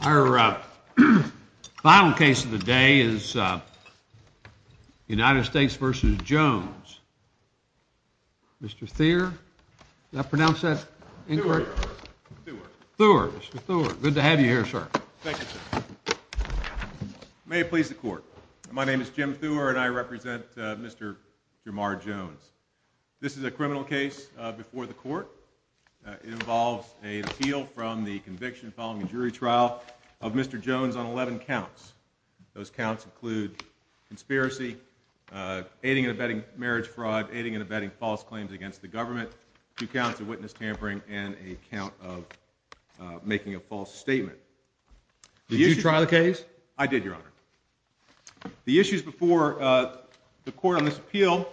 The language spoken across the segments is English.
Our final case of the day is United States v. Jones, Mr. Thurr. May it please the court. My name is Jim Thurr and I represent Mr. Jermar Jones. This is a criminal case before the court. It involves an appeal from the conviction following a jury trial of Mr. Jones on 11 counts. Those counts include conspiracy, aiding and abetting marriage fraud, aiding and abetting false claims against the government, two counts of witness tampering, and a count of The issues before the court on this appeal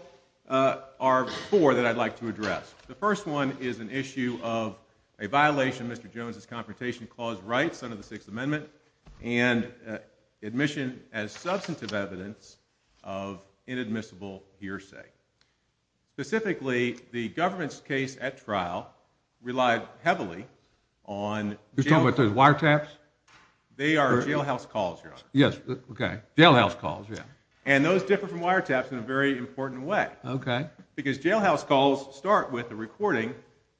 are four that I'd like to address. The first one is an issue of a violation of Mr. Jones's Confrontation Clause rights under the Sixth Amendment and admission as substantive evidence of inadmissible hearsay. Specifically, the government's case at trial relied heavily on... You're talking about those wiretaps? They are jailhouse calls, Your Honor. Yes, okay. And those differ from wiretaps in a very important way. Because jailhouse calls start with a recording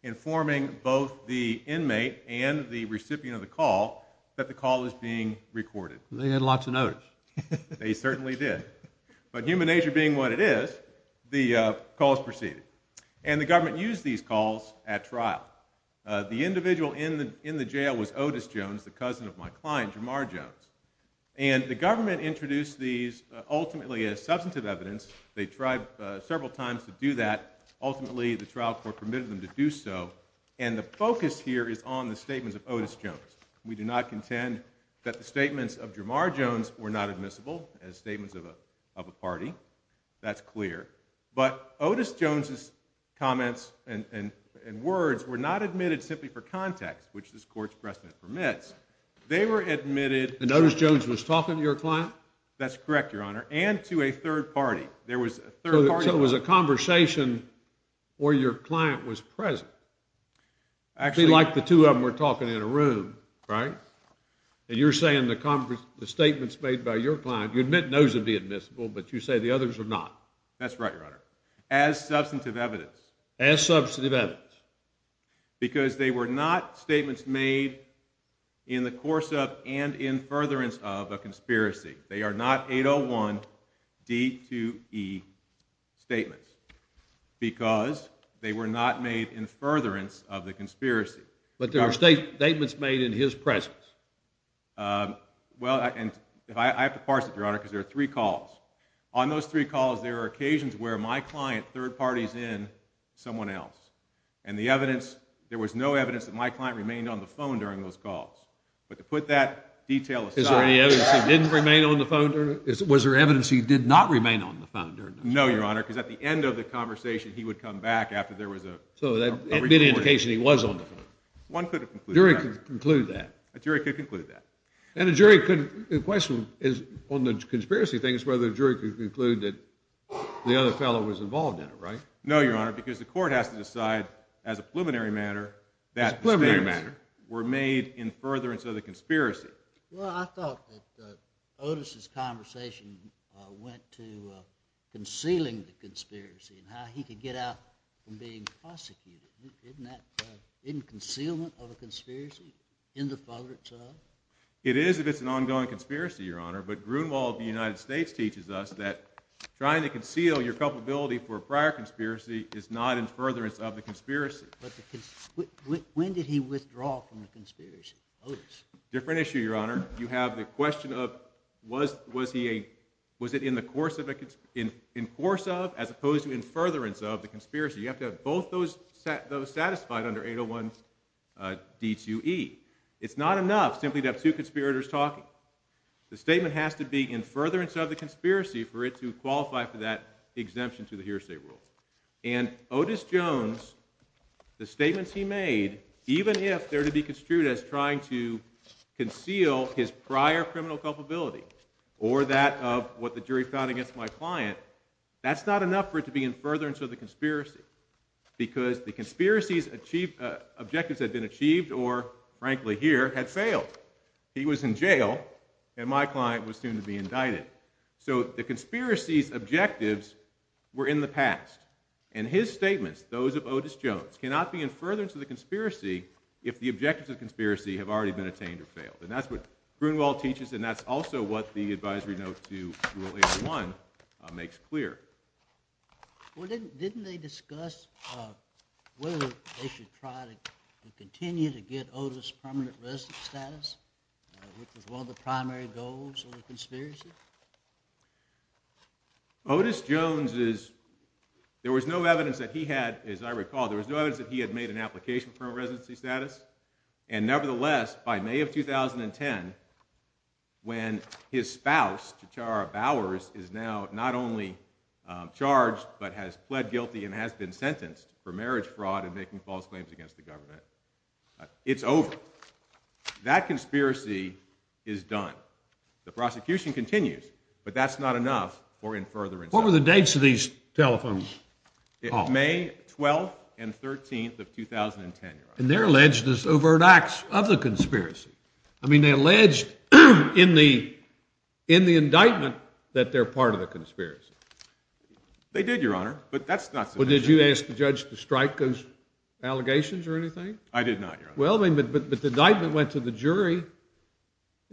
informing both the inmate and the recipient of the call that the call is being recorded. They had lots of notice. They certainly did. But human nature being what it is, the calls proceeded. And the government used these calls at trial. The individual in the jail was Otis Jones, the cousin of my client, Jamar Jones. And the government introduced these ultimately as substantive evidence. They tried several times to do that. Ultimately, the trial court permitted them to do so. And the focus here is on the statements of Otis Jones. We do not contend that the statements of Jamar Jones were not admissible as statements of a party. That's clear. But Otis Jones's comments and words were not admitted simply for context, which this court's precedent permits. They were admitted... And Otis Jones was talking to your client? That's correct, Your Honor. And to a third party. There was a third party... So it was a conversation where your client was present. Actually... Be like the two of them were talking in a room, right? And you're saying the statements made by your client, you admit those to be admissible, but you say the others are not. That's right, Your Honor. As substantive evidence. As substantive evidence. Because they were not statements made in the course of and in furtherance of a conspiracy. They are not 801-D2E statements. Because they were not made in furtherance of the conspiracy. But there are statements made in his presence. Well, and I have to parse it, Your Honor, because there are three calls. On those three calls, there are occasions where my client third parties in someone else. And the evidence... There was no evidence that my client remained on the phone during those calls. But to put that detail aside... Is there any evidence he didn't remain on the phone during... Was there evidence he did not remain on the phone during those calls? No, Your Honor, because at the end of the conversation, he would come back after there was a... So that would be an indication he was on the phone. One could have concluded that. A jury could conclude that. A jury could conclude that. And a jury could... The question on the conspiracy thing is whether a jury could conclude that the other fellow was involved in it, right? No, Your Honor, because the court has to decide as a preliminary matter that the statements were made in furtherance of the conspiracy. Well, I thought that Otis's conversation went to concealing the conspiracy and how he could get out from being prosecuted. Isn't that... Isn't concealment of a conspiracy in the furtherance of? It is if it's an ongoing conspiracy, Your Honor. But Grunewald of the United States teaches us that trying to conceal your culpability for a prior conspiracy is not in furtherance of the conspiracy. When did he withdraw from the conspiracy, Otis? Different issue, Your Honor. You have the question of was it in the course of, as opposed to in furtherance of the conspiracy. You have to have both those satisfied under 801 D2E. It's not enough simply to have two conspirators talking. The statement has to be in furtherance of the conspiracy for it to qualify for that exemption to the hearsay rule. And Otis Jones, the statements he made, even if they're to be construed as trying to conceal his prior criminal culpability or that of what the jury found against my client, that's not enough for it to be in furtherance of the conspiracy because the conspiracy's objectives had been achieved or, frankly here, had failed. He was in jail and my client was soon to be indicted. So the conspiracy's objectives were in the past. And his statements, those of Otis Jones, cannot be in furtherance of the conspiracy if the objectives of the conspiracy have already been attained or failed. And that's what Grunewald teaches and that's also what the advisory note to Rule 801 makes clear. Well, didn't they discuss whether they should try to continue to get Otis' permanent resident status, which was one of the primary goals of the conspiracy? Otis Jones is, there was no evidence that he had, as I recall, there was no evidence that he had made an application for a residency status. And nevertheless, by May of 2010, when his spouse, Tichara Bowers, is now not only charged but has pled guilty and has been sentenced for marriage fraud and making false claims against the government, it's over. That conspiracy is done. The prosecution continues. But that's not enough for in furtherance. What were the dates of these telephones? It's May 12th and 13th of 2010, Your Honor. And they're alleged as overt acts of the conspiracy. I mean, they alleged in the indictment that they're part of the conspiracy. They did, Your Honor, but that's not sufficient. But did you ask the judge to strike those allegations or anything? I did not, Your Honor. Well, but the indictment went to the jury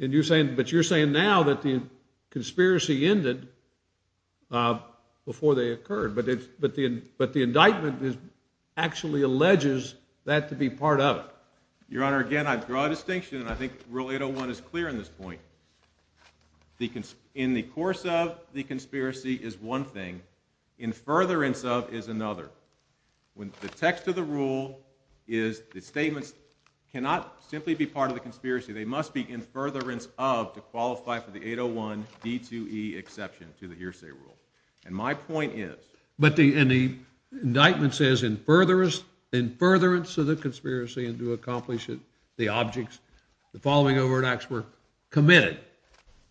and you're saying, but you're saying now that the conspiracy ended before they occurred. But the indictment actually alleges that to be part of it. Your Honor, again, I draw a distinction and I think Rule 801 is clear in this point. In the course of the conspiracy is one thing. In furtherance of is another. When the text of the rule is the statements cannot simply be part of the conspiracy. They must be in furtherance of to qualify for the 801 D2E exception to the hearsay rule. And my point is. But the indictment says in furtherance of the conspiracy and to accomplish it, the objects, the following overt acts were committed.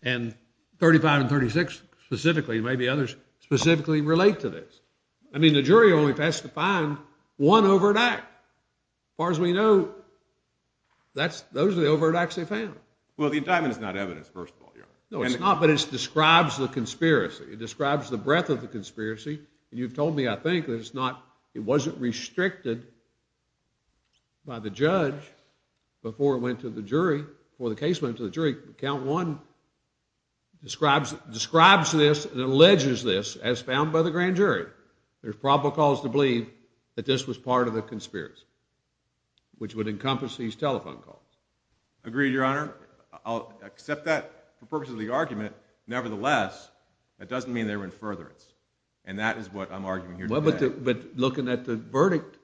And 35 and 36 specifically, maybe others, specifically relate to this. I mean, the jury only has to find one overt act. As far as we know, those are the overt acts they found. Well, the indictment is not evidence, first of all, Your Honor. No, it's not. But it describes the conspiracy. It describes the breadth of the conspiracy. And you've told me, I think, that it wasn't restricted by the judge before it went to the jury, before the case went to the jury. Count one describes this and alleges this as found by the grand jury. There's probable cause to believe that this was part of the conspiracy, which would encompass these telephone calls. Agreed, Your Honor. I'll accept that for purposes of the argument. Nevertheless, that doesn't mean they were in furtherance. And that is what I'm arguing here today. But looking at the verdict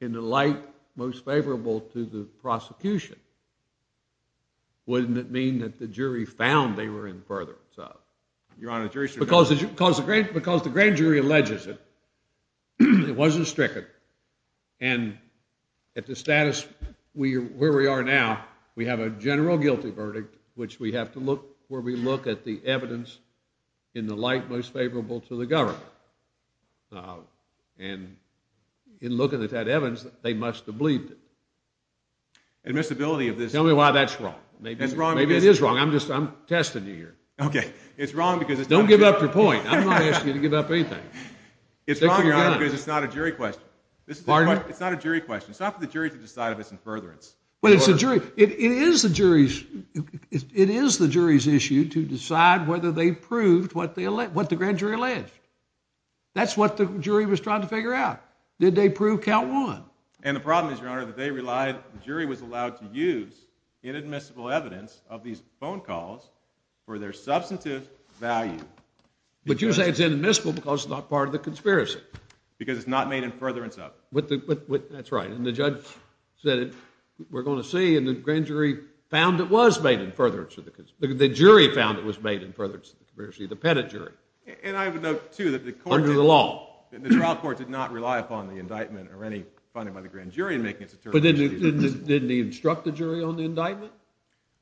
in the light most favorable to the prosecution, wouldn't it mean that the jury found they were in furtherance of? Your Honor, the jury's still going. Because the grand jury alleges it. It wasn't stricken. And at the status where we are now, we have a general guilty verdict, which we have to look where we look at the evidence in the light most favorable to the government. And in looking at that evidence, they must have believed it. Admissibility of this. Tell me why that's wrong. I'm testing you here. OK. It's wrong because it's not true. Don't give up your point. I'm not asking you to give up anything. It's wrong, Your Honor, because it's not a jury question. Pardon? It's not a jury question. It's not for the jury to decide if it's in furtherance. But it's a jury. It is the jury's issue to decide whether they proved what the grand jury alleged. That's what the jury was trying to figure out. Did they prove count one? And the problem is, Your Honor, that they relied, the jury was allowed to use inadmissible evidence of these phone calls for their substantive value. But you say it's inadmissible because it's not part of the conspiracy. Because it's not made in furtherance of it. That's right. And the judge said, we're going to see. And the grand jury found it was made in furtherance of the conspiracy. The jury found it was made in furtherance of the conspiracy, the pedigree. And I would note, too, that the court did not rely upon the indictment or any funding by the grand jury in making its determination. Didn't he instruct the jury on the indictment?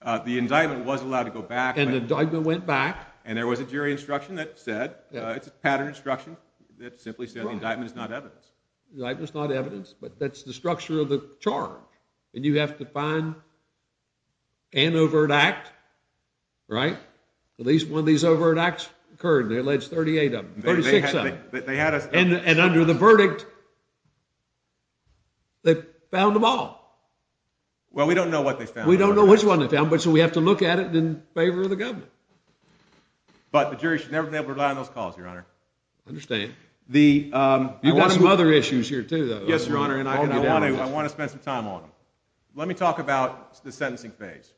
The indictment was allowed to go back. And the indictment went back. And there was a jury instruction that said, it's a pattern instruction that simply said the indictment is not evidence. The indictment's not evidence, but that's the structure of the charge. And you have to find an overt act, right? At least one of these overt acts occurred. There are alleged 38 of them, 36 of them. But they had us. And under the verdict, they found them all. Well, we don't know what they found. We don't know which one they found. But so we have to look at it in favor of the government. But the jury should never have been able to rely on those calls, Your Honor. Understand. You've got some other issues here, too, though. Yes, Your Honor. And I want to spend some time on them. Let me talk about the sentencing phase.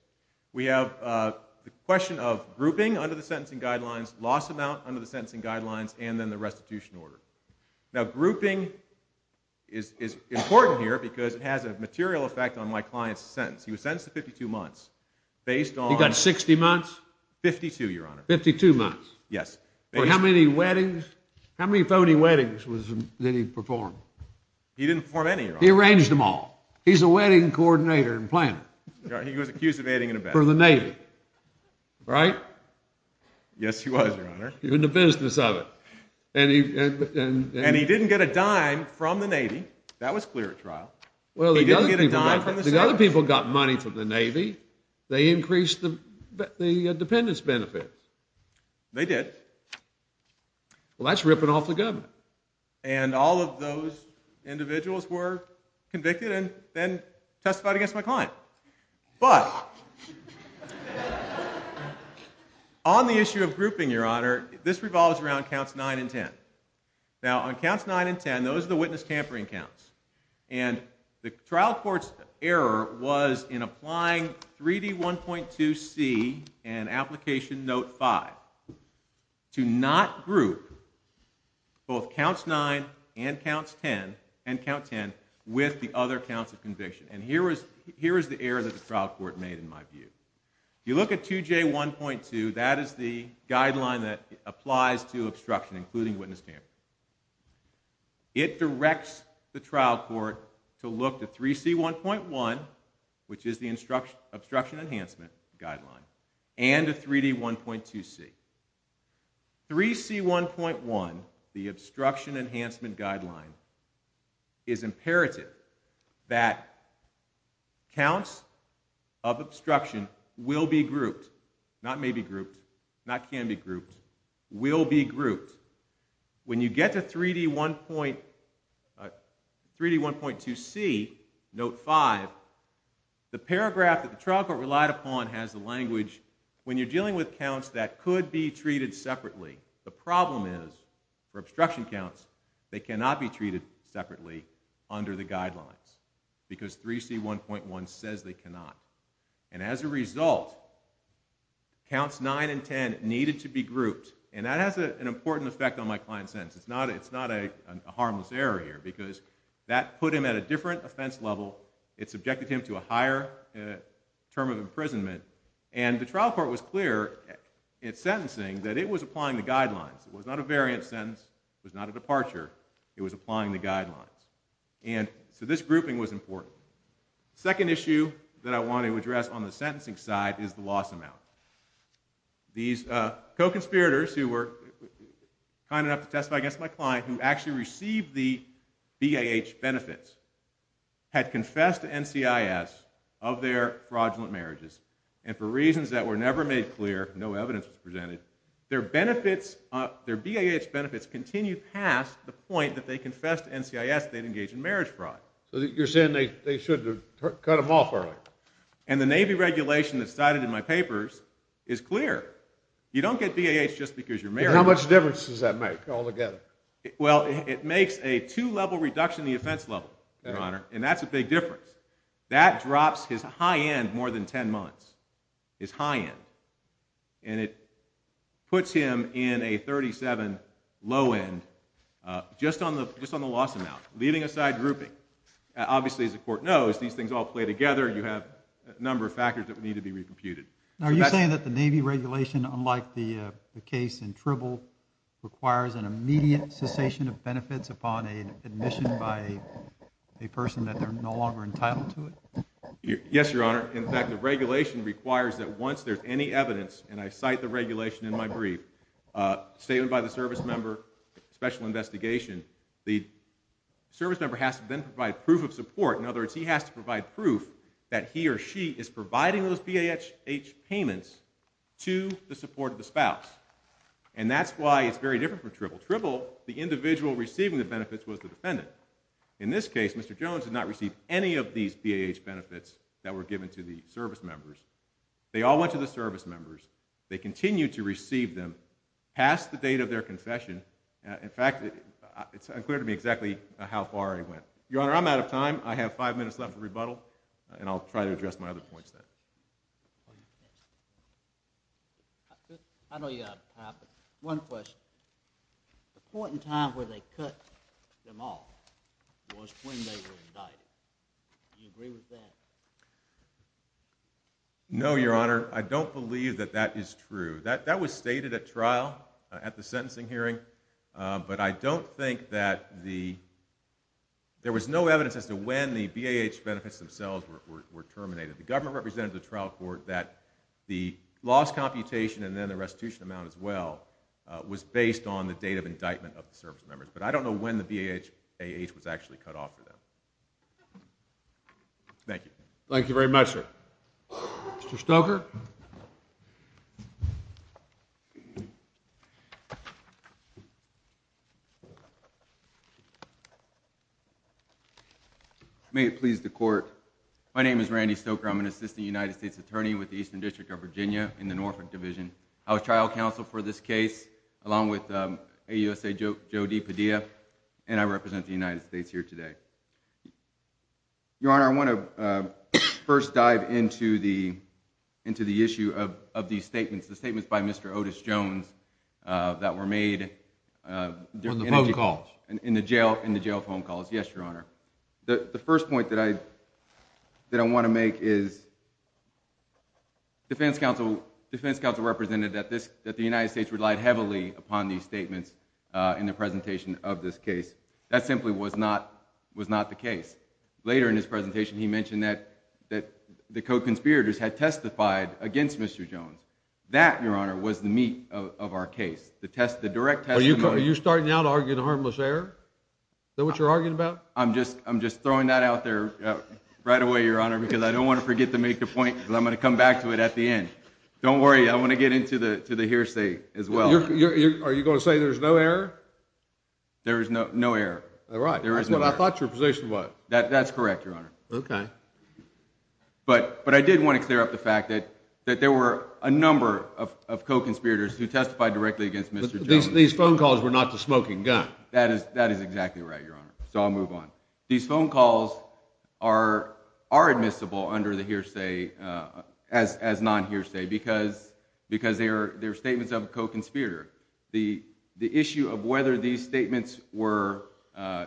We have the question of grouping under the sentencing guidelines, loss amount under the sentencing guidelines, and then the restitution order. Now, grouping is important here because it has a material effect on my client's sentence. He was sentenced to 52 months based on- He got 60 months? 52, Your Honor. 52 months? Yes. For how many weddings? How many phony weddings did he perform? He didn't perform any, Your Honor. He arranged them all. He's a wedding coordinator and planner. He was accused of aiding and abetting. For the Navy, right? Yes, he was, Your Honor. In the business of it. And he didn't get a dime from the Navy. That was clear at trial. He didn't get a dime from the sailors. Other people got money from the Navy. They increased the dependents' benefits. They did. Well, that's ripping off the government. And all of those individuals were convicted and then testified against my client. But on the issue of grouping, Your Honor, this revolves around counts 9 and 10. Now, on counts 9 and 10, those are the witness tampering counts. And the trial court's error was in applying 3D1.2c and application note 5 to not group both counts 9 and count 10 with the other counts of conviction. And here is the error that the trial court made in my view. If you look at 2J1.2, that is the guideline that applies to obstruction, including witness tampering. It directs the trial court to look to 3C1.1, which is the obstruction enhancement guideline, and to 3D1.2c. 3C1.1, the obstruction enhancement guideline, is imperative that counts of obstruction will be grouped, not may be grouped, not can be grouped, will be grouped when you get to 3D1.2c, note 5. The paragraph that the trial court relied upon has the language, when you're dealing with counts that could be treated separately, the problem is for obstruction counts, they cannot be treated separately under the guidelines because 3C1.1 says they cannot. And as a result, counts 9 and 10 needed to be grouped. And that has an important effect on my client's sentence. It's not a harmless error here, because that put him at a different offense level, it subjected him to a higher term of imprisonment, and the trial court was clear in its sentencing that it was applying the guidelines. It was not a variant sentence, it was not a departure, it was applying the guidelines. And so this grouping was important. The second issue that I want to address on the sentencing side is the loss amount. These co-conspirators who were kind enough to testify against my client, who actually received the BAH benefits, had confessed to NCIS of their fraudulent marriages, and for reasons that were never made clear, no evidence was presented, their benefits, their BAH benefits continued past the point that they confessed to NCIS they'd engaged in marriage fraud. So you're saying they should have cut them off early. And the Navy regulation that's cited in my papers is clear. You don't get BAH just because you're married. How much difference does that make altogether? Well, it makes a two-level reduction the offense level, Your Honor, and that's a big difference. That drops his high end more than 10 months, his high end. And it puts him in a 37 low end, just on the loss amount, leaving aside grouping. Obviously, as the court knows, these things all play together, you have a number of factors that Are you saying that the Navy regulation, unlike the case in Tribble, requires an immediate cessation of benefits upon admission by a person that they're no longer entitled to it? Yes, Your Honor. In fact, the regulation requires that once there's any evidence, and I cite the regulation in my brief, statement by the service member, special investigation, the service member has to then provide proof of support. In other words, he has to provide proof that he or she is providing those BAH payments to the support of the spouse. And that's why it's very different from Tribble. Tribble, the individual receiving the benefits was the defendant. In this case, Mr. Jones did not receive any of these BAH benefits that were given to the service members. They all went to the service members. They continued to receive them past the date of their confession. In fact, it's unclear to me exactly how far it went. Your Honor, I'm out of time. I have five minutes left for rebuttal, and I'll try to address my other points then. I know you have time, but one question. The point in time where they cut them off was when they were indicted. Do you agree with that? No, Your Honor. I don't believe that that is true. That was stated at trial, at the sentencing hearing, but I don't think that the, there was no evidence as to when the BAH benefits themselves were terminated. The government represented the trial court that the loss computation and then the restitution amount as well was based on the date of indictment of the service members, but I don't know when the BAH was actually cut off for them. Thank you. Mr. Stoker. May it please the court. My name is Randy Stoker. I'm an assistant United States attorney with the Eastern District of Virginia in the Norfolk Division. I was trial counsel for this case, along with AUSA Joe D. Padilla, and I represent the United States here today. Your Honor, I want to first dive into the issue of these statements, the statements by Mr. Otis Jones that were made in the jail phone calls. Yes, Your Honor. The first point that I want to make is defense counsel represented that the United States relied heavily upon these statements in the presentation of this case. That simply was not the case. Later in his presentation, he mentioned that the co-conspirators had testified against Mr. Jones. That, Your Honor, was the meat of our case. Are you starting now to argue the harmless error? Is that what you're arguing about? I'm just throwing that out there right away, Your Honor, because I don't want to forget to make the point, because I'm going to come back to it at the end. Don't worry, I want to get into the hearsay as well. Are you going to say there's no error? There is no error. All right, that's what I thought your position was. That's correct, Your Honor. Okay. But I did want to clear up the fact that there were a number of co-conspirators who testified directly against Mr. Jones. These phone calls were not the smoking gun. That is exactly right, Your Honor. So I'll move on. These phone calls are admissible under the hearsay, as non-hearsay, because they're statements of a co-conspirator. The issue of whether these statements were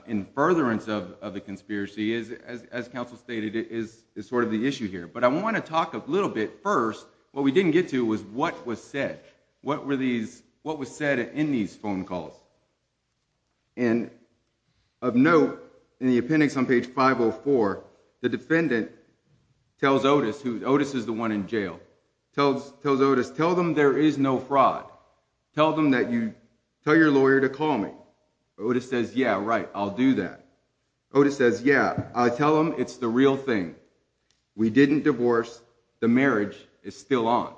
in furtherance of the conspiracy, as counsel stated, is sort of the issue here. But I want to talk a little bit first, what we didn't get to was what was said. What was said in these phone calls? And of note, in the appendix on page 504, the defendant tells Otis, who Otis is the one in jail, tells Otis, tell them there is no fraud. Tell them that you, tell your lawyer to call me. Otis says, yeah, right, I'll do that. Otis says, yeah, I'll tell them it's the real thing. We didn't divorce. The marriage is still on.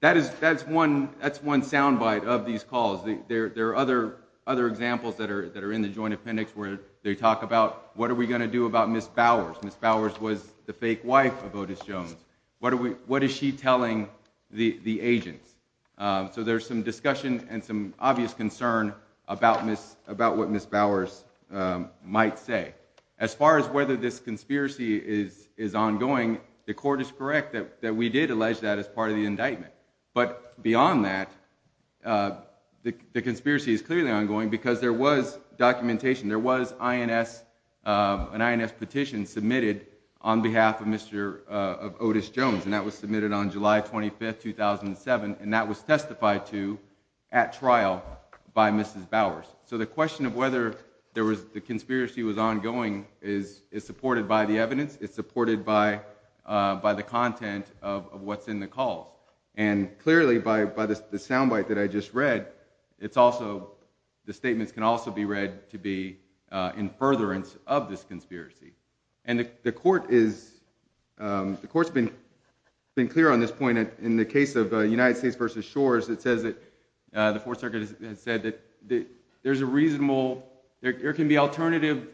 That is, that's one, that's one soundbite of these calls. There are other examples that are in the joint appendix where they talk about, what are we gonna do about Ms. Bowers? Ms. Bowers was the fake wife of Otis Jones. What is she telling the agents? So there's some discussion and some obvious concern about what Ms. Bowers might say. As far as whether this conspiracy is ongoing, the court is correct that we did allege that as part of the indictment. But beyond that, the conspiracy is clearly ongoing because there was documentation. There was INS, an INS petition submitted on behalf of Mr., of Otis Jones, and that was submitted on July 25th, 2007, and that was testified to at trial by Mrs. Bowers. So the question of whether there was, the conspiracy was ongoing is supported by the evidence. It's supported by the content of what's in the calls. And clearly, by the sound bite that I just read, it's also, the statements can also be read to be in furtherance of this conspiracy. And the court is, the court's been clear on this point in the case of United States versus Shores. It says that, the Fourth Circuit has said that there's a reasonable, there can be alternative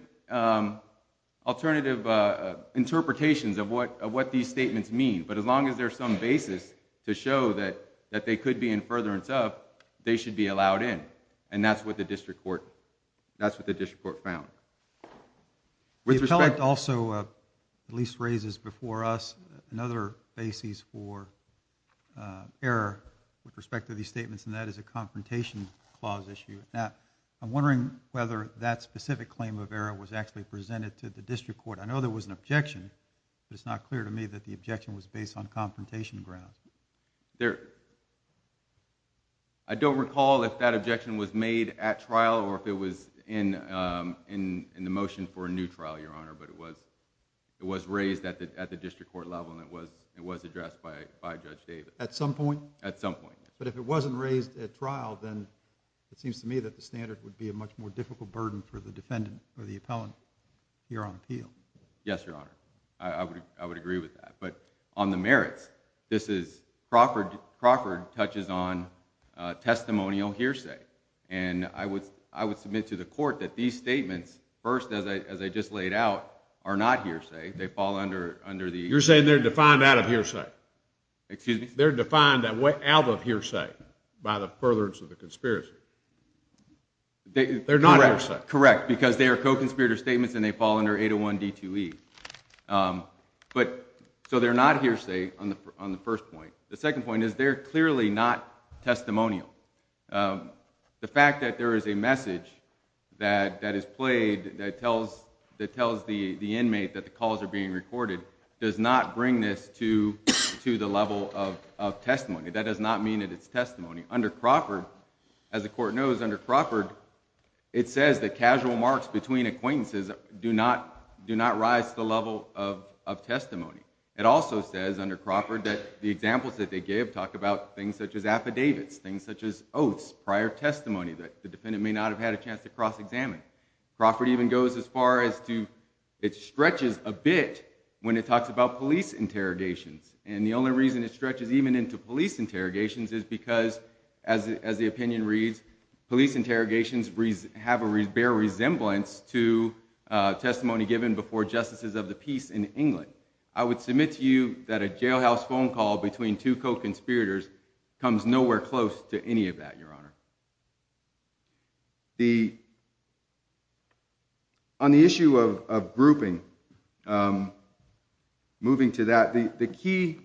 interpretations of what these statements mean. But as long as there's some basis to show that they could be in furtherance of, they should be allowed in. And that's what the district court, that's what the district court found. With respect- The appellate also, at least raises before us, another basis for error with respect to these statements, and that is a confrontation clause issue. Now, I'm wondering whether that specific claim of error was actually presented to the district court. I know there was an objection, but it's not clear to me that the objection was based on confrontation grounds. There, I don't recall if that objection was made at trial or if it was in the motion for a new trial, Your Honor, but it was raised at the district court level and it was addressed by Judge Davis. At some point? At some point, yes. But if it wasn't raised at trial, then it seems to me that the standard would be a much more difficult burden for the defendant or the appellant here on appeal. Yes, Your Honor, I would agree with that. But on the merits, this is Crawford touches on testimonial hearsay, and I would submit to the court that these statements, first, as I just laid out, are not hearsay. They fall under the- You're saying they're defined out of hearsay. Excuse me? They're defined out of hearsay by the furtherance of the conspiracy. They're not hearsay. Correct, because they are co-conspirator statements and they fall under 801 D2E. So they're not hearsay on the first point. The second point is they're clearly not testimonial. The fact that there is a message that is played that tells the inmate that the calls are being recorded does not bring this to the level of testimony. That does not mean that it's testimony. Under Crawford, as the court knows, under Crawford, it says that casual marks between acquaintances do not rise to the level of testimony. It also says, under Crawford, that the examples that they give talk about things such as affidavits, things such as oaths, prior testimony that the defendant may not have had a chance to cross-examine. Crawford even goes as far as to- It stretches a bit when it talks about police interrogations, and the only reason it stretches even into police interrogations is because, as the opinion reads, police interrogations have a bare resemblance to testimony given before justices of the peace in England. I would submit to you that a jailhouse phone call between two co-conspirators comes nowhere close to any of that, Your Honor. On the issue of grouping, moving to that, the key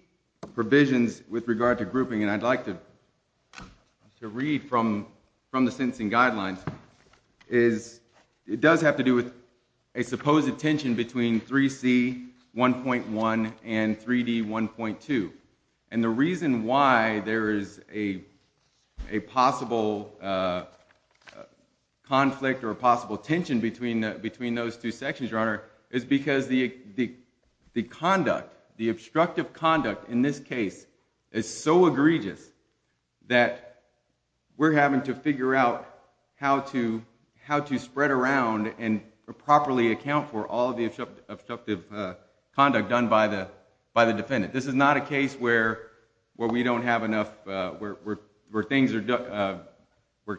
provisions with regard to grouping, and I'd like to read from the sentencing guidelines, is it does have to do with a supposed tension between 3C1.1 and 3D1.2, and the reason why there is a possible conflict or a possible tension between those two sections, Your Honor, is because the conduct, the obstructive conduct in this case is so egregious that we're having to figure out how to spread around and properly account for all of the obstructive conduct done by the defendant. This is not a case where we don't have enough- where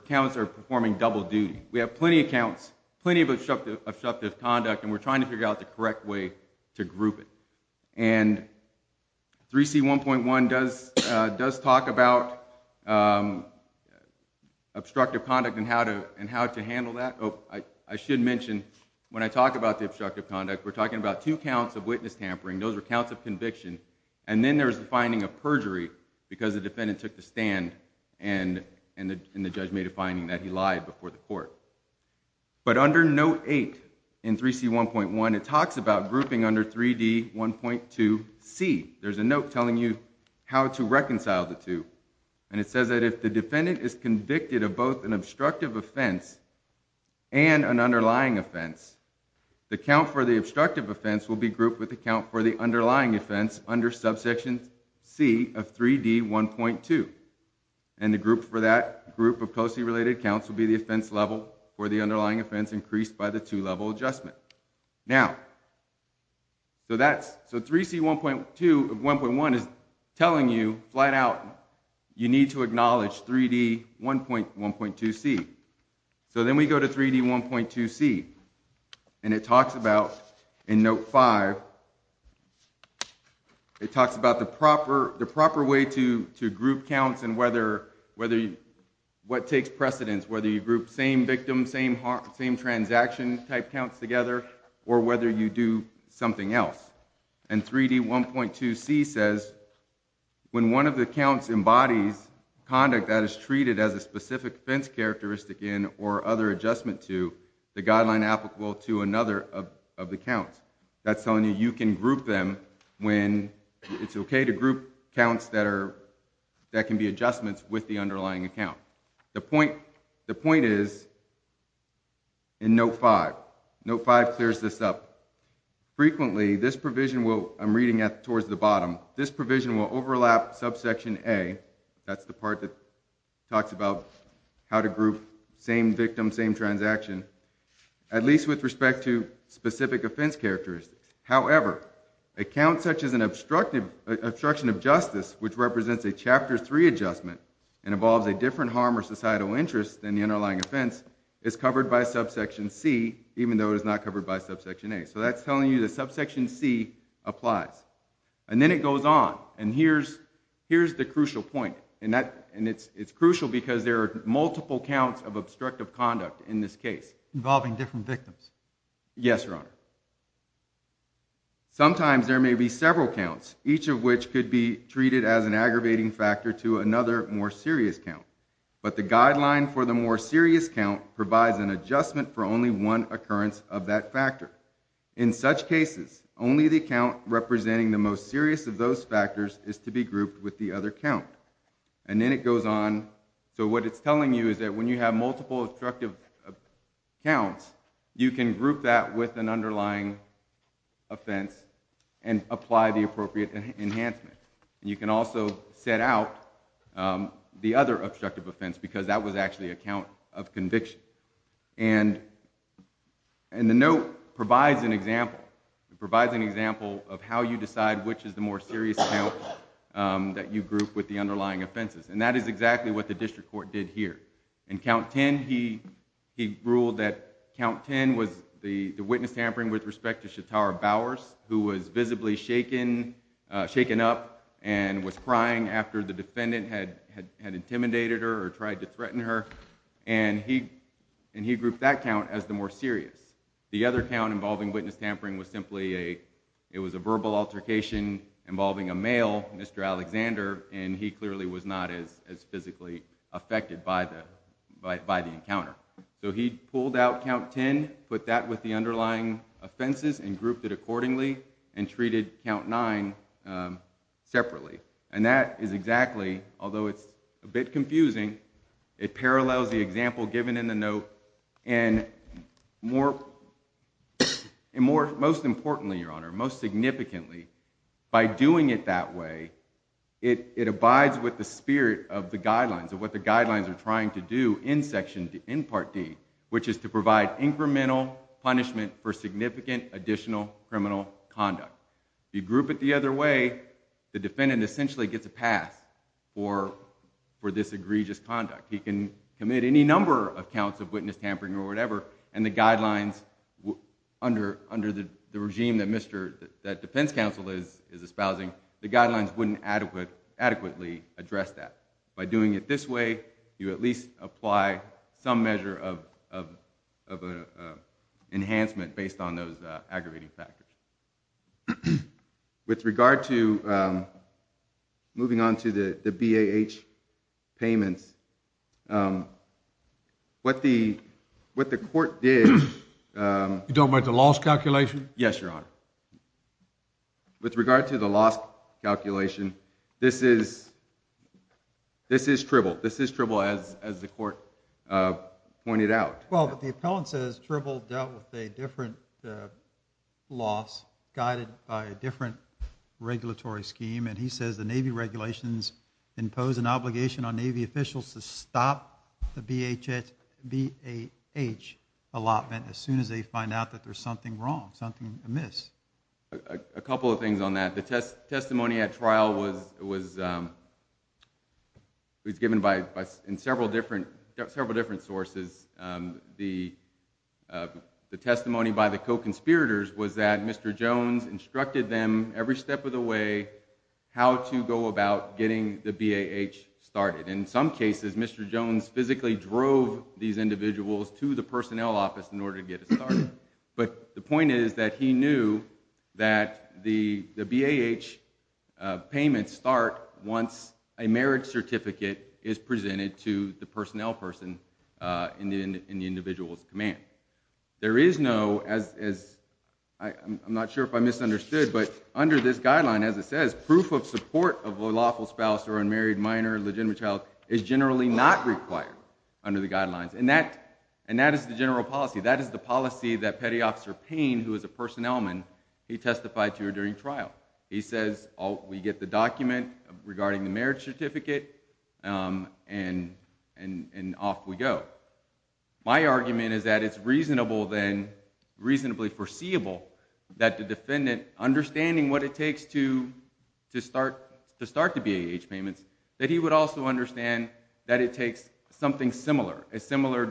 counts are performing double duty. We have plenty of counts, plenty of obstructive conduct, and we're trying to figure out the correct way to group it. And 3C1.1 does talk about obstructive conduct and how to handle that. Oh, I should mention, when I talk about the obstructive conduct, we're talking about two counts of witness tampering. Those are counts of conviction, and then there's the finding of perjury because the defendant took the stand and the judge made a finding that he lied before the court. But under Note 8 in 3C1.1, it talks about grouping under 3D1.2C. There's a note telling you how to reconcile the two. And it says that if the defendant is convicted of both an obstructive offense and an underlying offense, the count for the obstructive offense will be grouped with the count for the underlying offense under subsection C of 3D1.2. And the group for that group of closely related counts will be the offense level for the underlying offense increased by the two-level adjustment. Now, so 3C1.1 is telling you flat out you need to acknowledge 3D1.1.2C. So then we go to 3D1.2C, and it talks about in Note 5, it talks about the proper way to group counts and what takes precedence, whether you group same victim, same transaction type counts together, or whether you do something else. And 3D1.2C says when one of the counts embodies conduct that is treated as a specific offense characteristic in or other adjustment to, the guideline applicable to another of the counts. That's telling you you can group them when it's okay to group counts that can be adjustments with the underlying account. The point is in Note 5. Note 5 clears this up. Frequently, this provision will, I'm reading towards the bottom, this provision will overlap subsection A, that's the part that talks about how to group same victim, same transaction, at least with respect to specific offense characteristics. However, a count such as an obstruction of justice, which represents a Chapter 3 adjustment and involves a different harm or societal interest than the underlying offense, is covered by subsection C, even though it is not covered by subsection A. So that's telling you that subsection C applies. And then it goes on. And here's the crucial point. And it's crucial because there are multiple counts of obstructive conduct in this case. Involving different victims. Yes, Your Honor. Sometimes there may be several counts, each of which could be treated as an aggravating factor to another more serious count. But the guideline for the more serious count provides an adjustment for only one occurrence of that factor. In such cases, only the count representing the most serious of those factors is to be grouped with the other count. And then it goes on. So what it's telling you is that when you have multiple obstructive counts, you can group that with an underlying offense and apply the appropriate enhancement. And you can also set out the other obstructive offense because that was actually a count of conviction. And the note provides an example. It provides an example of how you decide which is the more serious count that you group with the underlying offenses. And that is exactly what the district court did here. In count 10, he ruled that count 10 was the witness tampering with respect to Shatara Bowers, who was visibly shaken, shaken up and was crying after the defendant had intimidated her or tried to threaten her. And he grouped that count as the more serious. The other count involving witness tampering was simply a, it was a verbal altercation involving a male, Mr. Alexander, and he clearly was not as physically affected by the encounter. So he pulled out count 10, put that with the underlying offenses and grouped it accordingly and treated count nine separately. And that is exactly, although it's a bit confusing, it parallels the example given in the note. And most importantly, Your Honor, most significantly, by doing it that way, it abides with the spirit of the guidelines of what the guidelines are trying to do in section, in part D, which is to provide incremental punishment for significant additional criminal conduct. If you group it the other way, the defendant essentially gets a pass for this egregious conduct. He can commit any number of counts of witness tampering or whatever and the guidelines under the regime that defense counsel is espousing, the guidelines wouldn't adequately address that. By doing it this way, you at least apply some measure of enhancement based on those aggravating factors. With regard to moving on to the BAH payments, what the court did- You don't mind the loss calculation? Yes, Your Honor. With regard to the loss calculation, this is tripled. This is tripled as the court pointed out. Well, but the appellant says tripled dealt with a different loss guided by a different regulatory scheme and he says the Navy regulations impose an obligation on Navy officials to stop the BAH allotment as soon as they find out that there's something wrong, something amiss. A couple of things on that. The testimony at trial was given by several different sources. The testimony by the co-conspirators was that Mr. Jones instructed them every step of the way how to go about getting the BAH started. In some cases, Mr. Jones physically drove these individuals to the personnel office in order to get it started. But the point is that he knew that the BAH payments start once a marriage certificate is presented to the personnel person in the individual's command. There is no, I'm not sure if I misunderstood, but under this guideline, as it says, proof of support of a lawful spouse or unmarried minor, legitimate child is generally not required under the guidelines. And that is the general policy. That is the policy that Petty Officer Payne, who is a personnel man, he testified to during trial. He says, oh, we get the document regarding the marriage certificate and off we go. My argument is that it's reasonable then, reasonably foreseeable that the defendant, understanding what it takes to start the BAH payments, that he would also understand that it takes something similar, a similar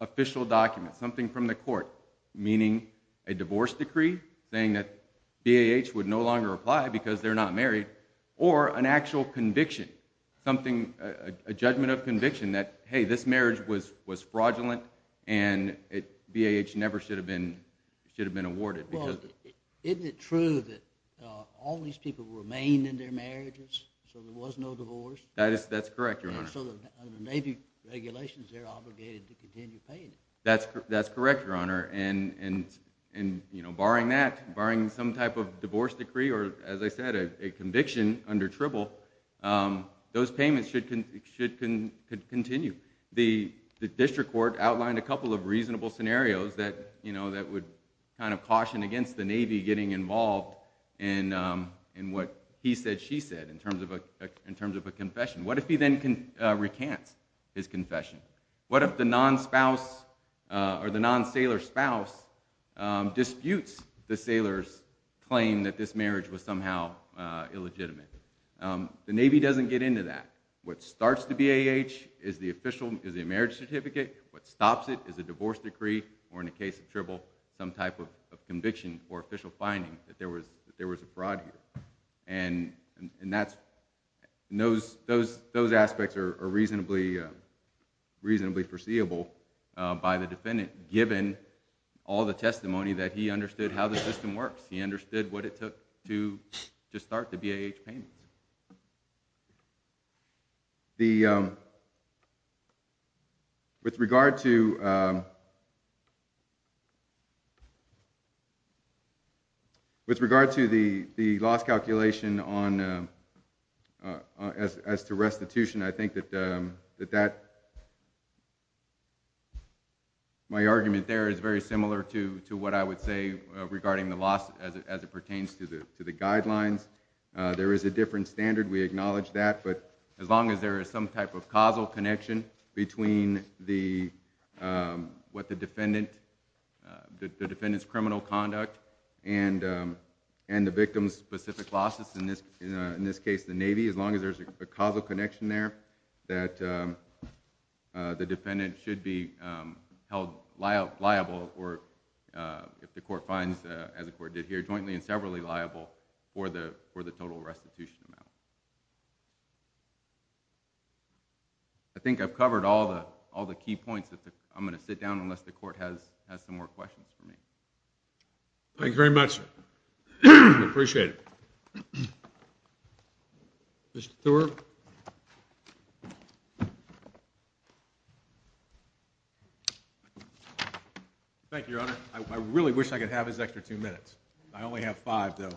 official document, something from the court, meaning a divorce decree saying that BAH would no longer apply because they're not married, or an actual conviction something, a judgment of conviction that, hey, this marriage was fraudulent and BAH never should have been awarded. Well, isn't it true that all these people remained in their marriages so there was no divorce? That's correct, Your Honor. So the Navy regulations, they're obligated to continue paying. That's correct, Your Honor. And barring that, barring some type of divorce decree, or as I said, a conviction under Tribble, those payments should continue. The district court outlined a couple of reasonable scenarios that would kind of caution against the Navy getting involved in what he said, she said in terms of a confession. What if he then recants his confession? What if the non-spouse or the non-sailor spouse disputes the sailor's claim that this marriage was somehow illegitimate? The Navy doesn't get into that. What starts the BAH is the official marriage certificate. What stops it is a divorce decree or in the case of Tribble, some type of conviction or official finding that there was a fraud here. And those aspects are reasonably foreseeable by the defendant, given all the testimony that he understood how the system works. He understood what it took to start the BAH payment. With regard to the loss calculation as to restitution, I think that my argument there is very similar to what I would say regarding the loss as it pertains to the guidelines. There is a different standard. We acknowledge that. But as long as there is some type of causal connection between the defendant's criminal conduct and the victim's specific losses, in this case, the Navy, as long as there's a causal connection there that the defendant should be held liable or if the court finds, as the court did here, jointly and severally liable for the total restitution amount. I think I've covered all the key points. I'm going to sit down unless the court has some more questions for me. Thank you very much. I appreciate it. Mr. Thorpe. Thank you, Your Honor. I really wish I could have this extra two minutes. I only have five, though.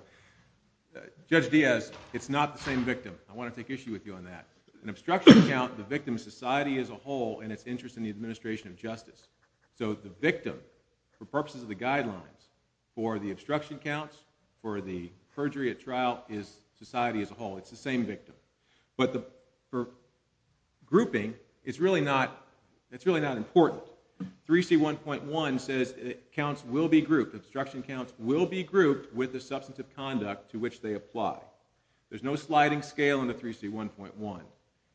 Judge Diaz, it's not the same victim. I want to take issue with you on that. An obstruction count, the victim's society as a whole and its interest in the administration of justice. So the victim, for purposes of the guidelines, for the obstruction counts, for the perjury at trial, is society as a whole. It's the same victim. But for grouping, it's really not important. 3C1.1 says counts will be grouped. Obstruction counts will be grouped with the substantive conduct to which they apply. There's no sliding scale in the 3C1.1.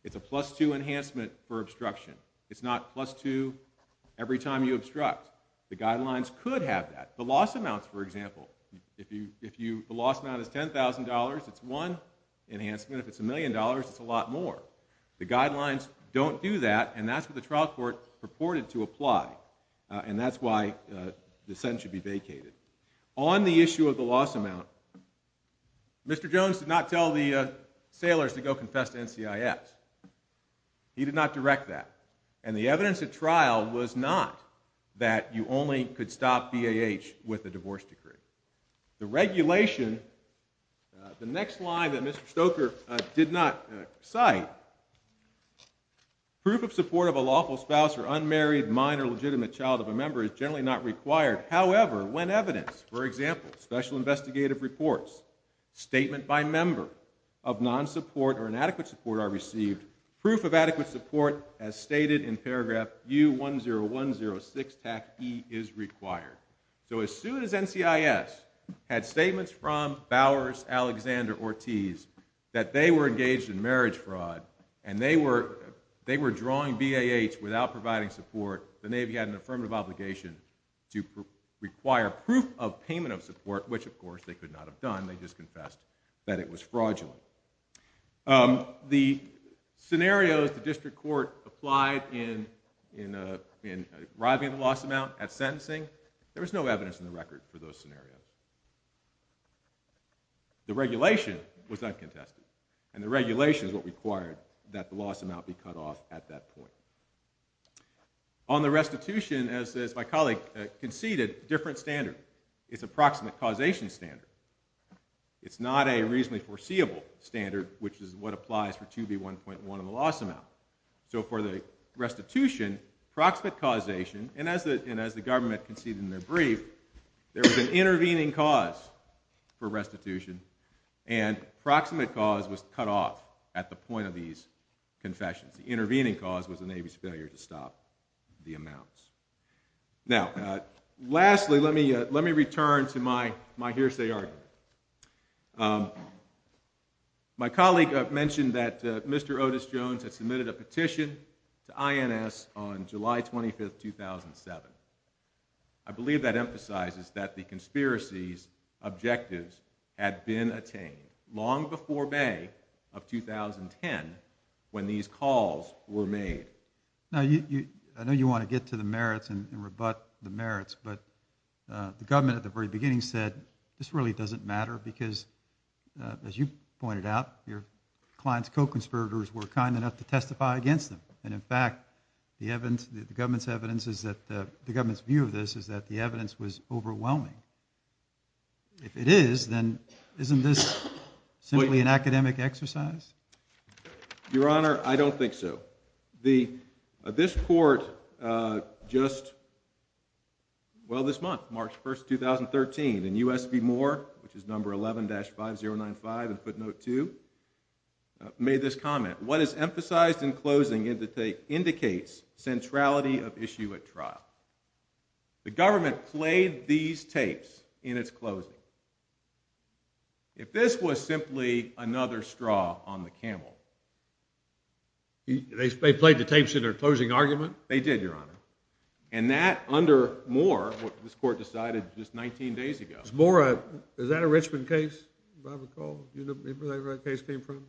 It's a plus-two enhancement for obstruction. It's not plus-two every time you obstruct. The guidelines could have that. The loss amounts, for example, the loss amount is $10,000. It's one enhancement. If it's a million dollars, it's a lot more. The guidelines don't do that. And that's what the trial court purported to apply. And that's why the sentence should be vacated. On the issue of the loss amount, Mr. Jones did not tell the sailors to go confess to NCIS. He did not direct that. And the evidence at trial was not that you only could stop BAH with a divorce decree. The regulation, the next line that Mr. Stoker did not cite, proof of support of a lawful spouse or unmarried minor legitimate child of a member is generally not required. However, when evidence, for example, special investigative reports, statement by member of non-support or inadequate support are received, proof of adequate support, as stated in paragraph U-10106-E is required. So as soon as NCIS had statements from Bowers, Alexander, Ortiz, that they were engaged in marriage fraud and they were drawing BAH without providing support, the Navy had an affirmative obligation to require proof of payment of support, which, of course, they could not have done. They just confessed that it was fraudulent. The scenarios the district court applied in arriving at the loss amount at sentencing, there was no evidence in the record for those scenarios. The regulation was uncontested and the regulation is what required that the loss amount be cut off at that point. On the restitution, as my colleague conceded, a different standard. It's a proximate causation standard. It's not a reasonably foreseeable standard, which is what applies for 2B1.1 on the loss amount. So for the restitution, proximate causation, and as the government conceded in their brief, there was an intervening cause for restitution and proximate cause was cut off at the point of these confessions. The intervening cause was the Navy's failure to stop the amounts. Now, lastly, let me return to my hearsay argument. My colleague mentioned that Mr. Otis Jones had submitted a petition to INS on July 25, 2007. I believe that emphasizes that the conspiracy's objectives had been attained long before May of 2010 when these calls were made. Now, I know you want to get to the merits and rebut the merits, but the government at the very beginning said, this really doesn't matter because, as you pointed out, your client's co-conspirators were kind enough to testify against them. And in fact, the government's evidence is that the government's view of this is that the evidence was overwhelming. If it is, then isn't this simply an academic exercise? Your Honor, I don't think so. This court just, well, this month, March 1, 2013, and U.S. v. Moore, which is number 11-5095 in footnote two, made this comment. What is emphasized in closing indicates centrality of issue at trial. The government played these tapes in its closing. If this was simply another straw on the camel, they played the tapes in their closing argument? They did, Your Honor. And that under Moore, this court decided just 19 days ago. Is that a Richmond case, if I recall? You remember where that case came from?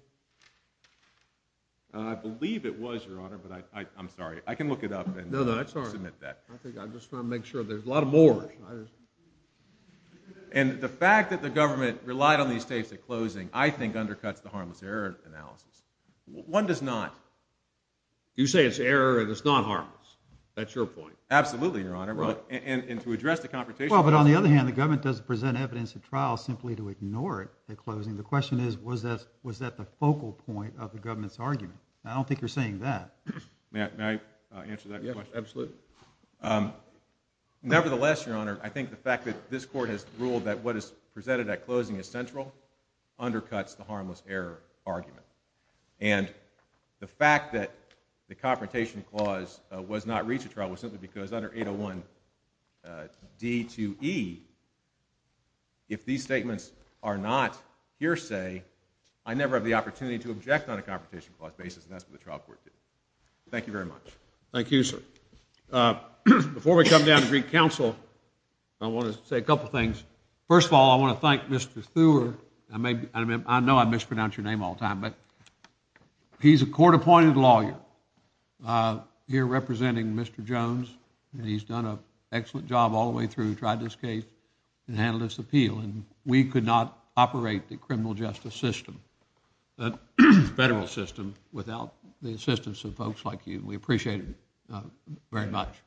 I believe it was, Your Honor, but I'm sorry. I can look it up and submit that. I think I'm just trying to make sure. There's a lot of Moores. And the fact that the government relied on these tapes at closing, I think undercuts the harmless error analysis. One does not. You say it's error, and it's not harmless. That's your point. Absolutely, Your Honor. And to address the confrontation... Well, but on the other hand, the government doesn't present evidence at trial simply to ignore it at closing. The question is, was that the focal point of the government's argument? I don't think you're saying that. May I answer that question? Absolutely. Nevertheless, Your Honor, I think the fact that this court has ruled that what is presented at closing is central undercuts the harmless error argument. And the fact that the confrontation clause was not reached at trial was simply because under 801 D2E, if these statements are not hearsay, I never have the opportunity to object on a confrontation clause basis, and that's what the trial court did. Thank you very much. Thank you, sir. Before we come down to Greek counsel, I want to say a couple things. First of all, I want to thank Mr. Thur. I know I mispronounce your name all the time, but he's a court-appointed lawyer here representing Mr. Jones, and he's done an excellent job all the way through, tried this case and handled this appeal, and we could not operate the criminal justice system, the federal system, without the assistance of folks like you. We appreciate it very much.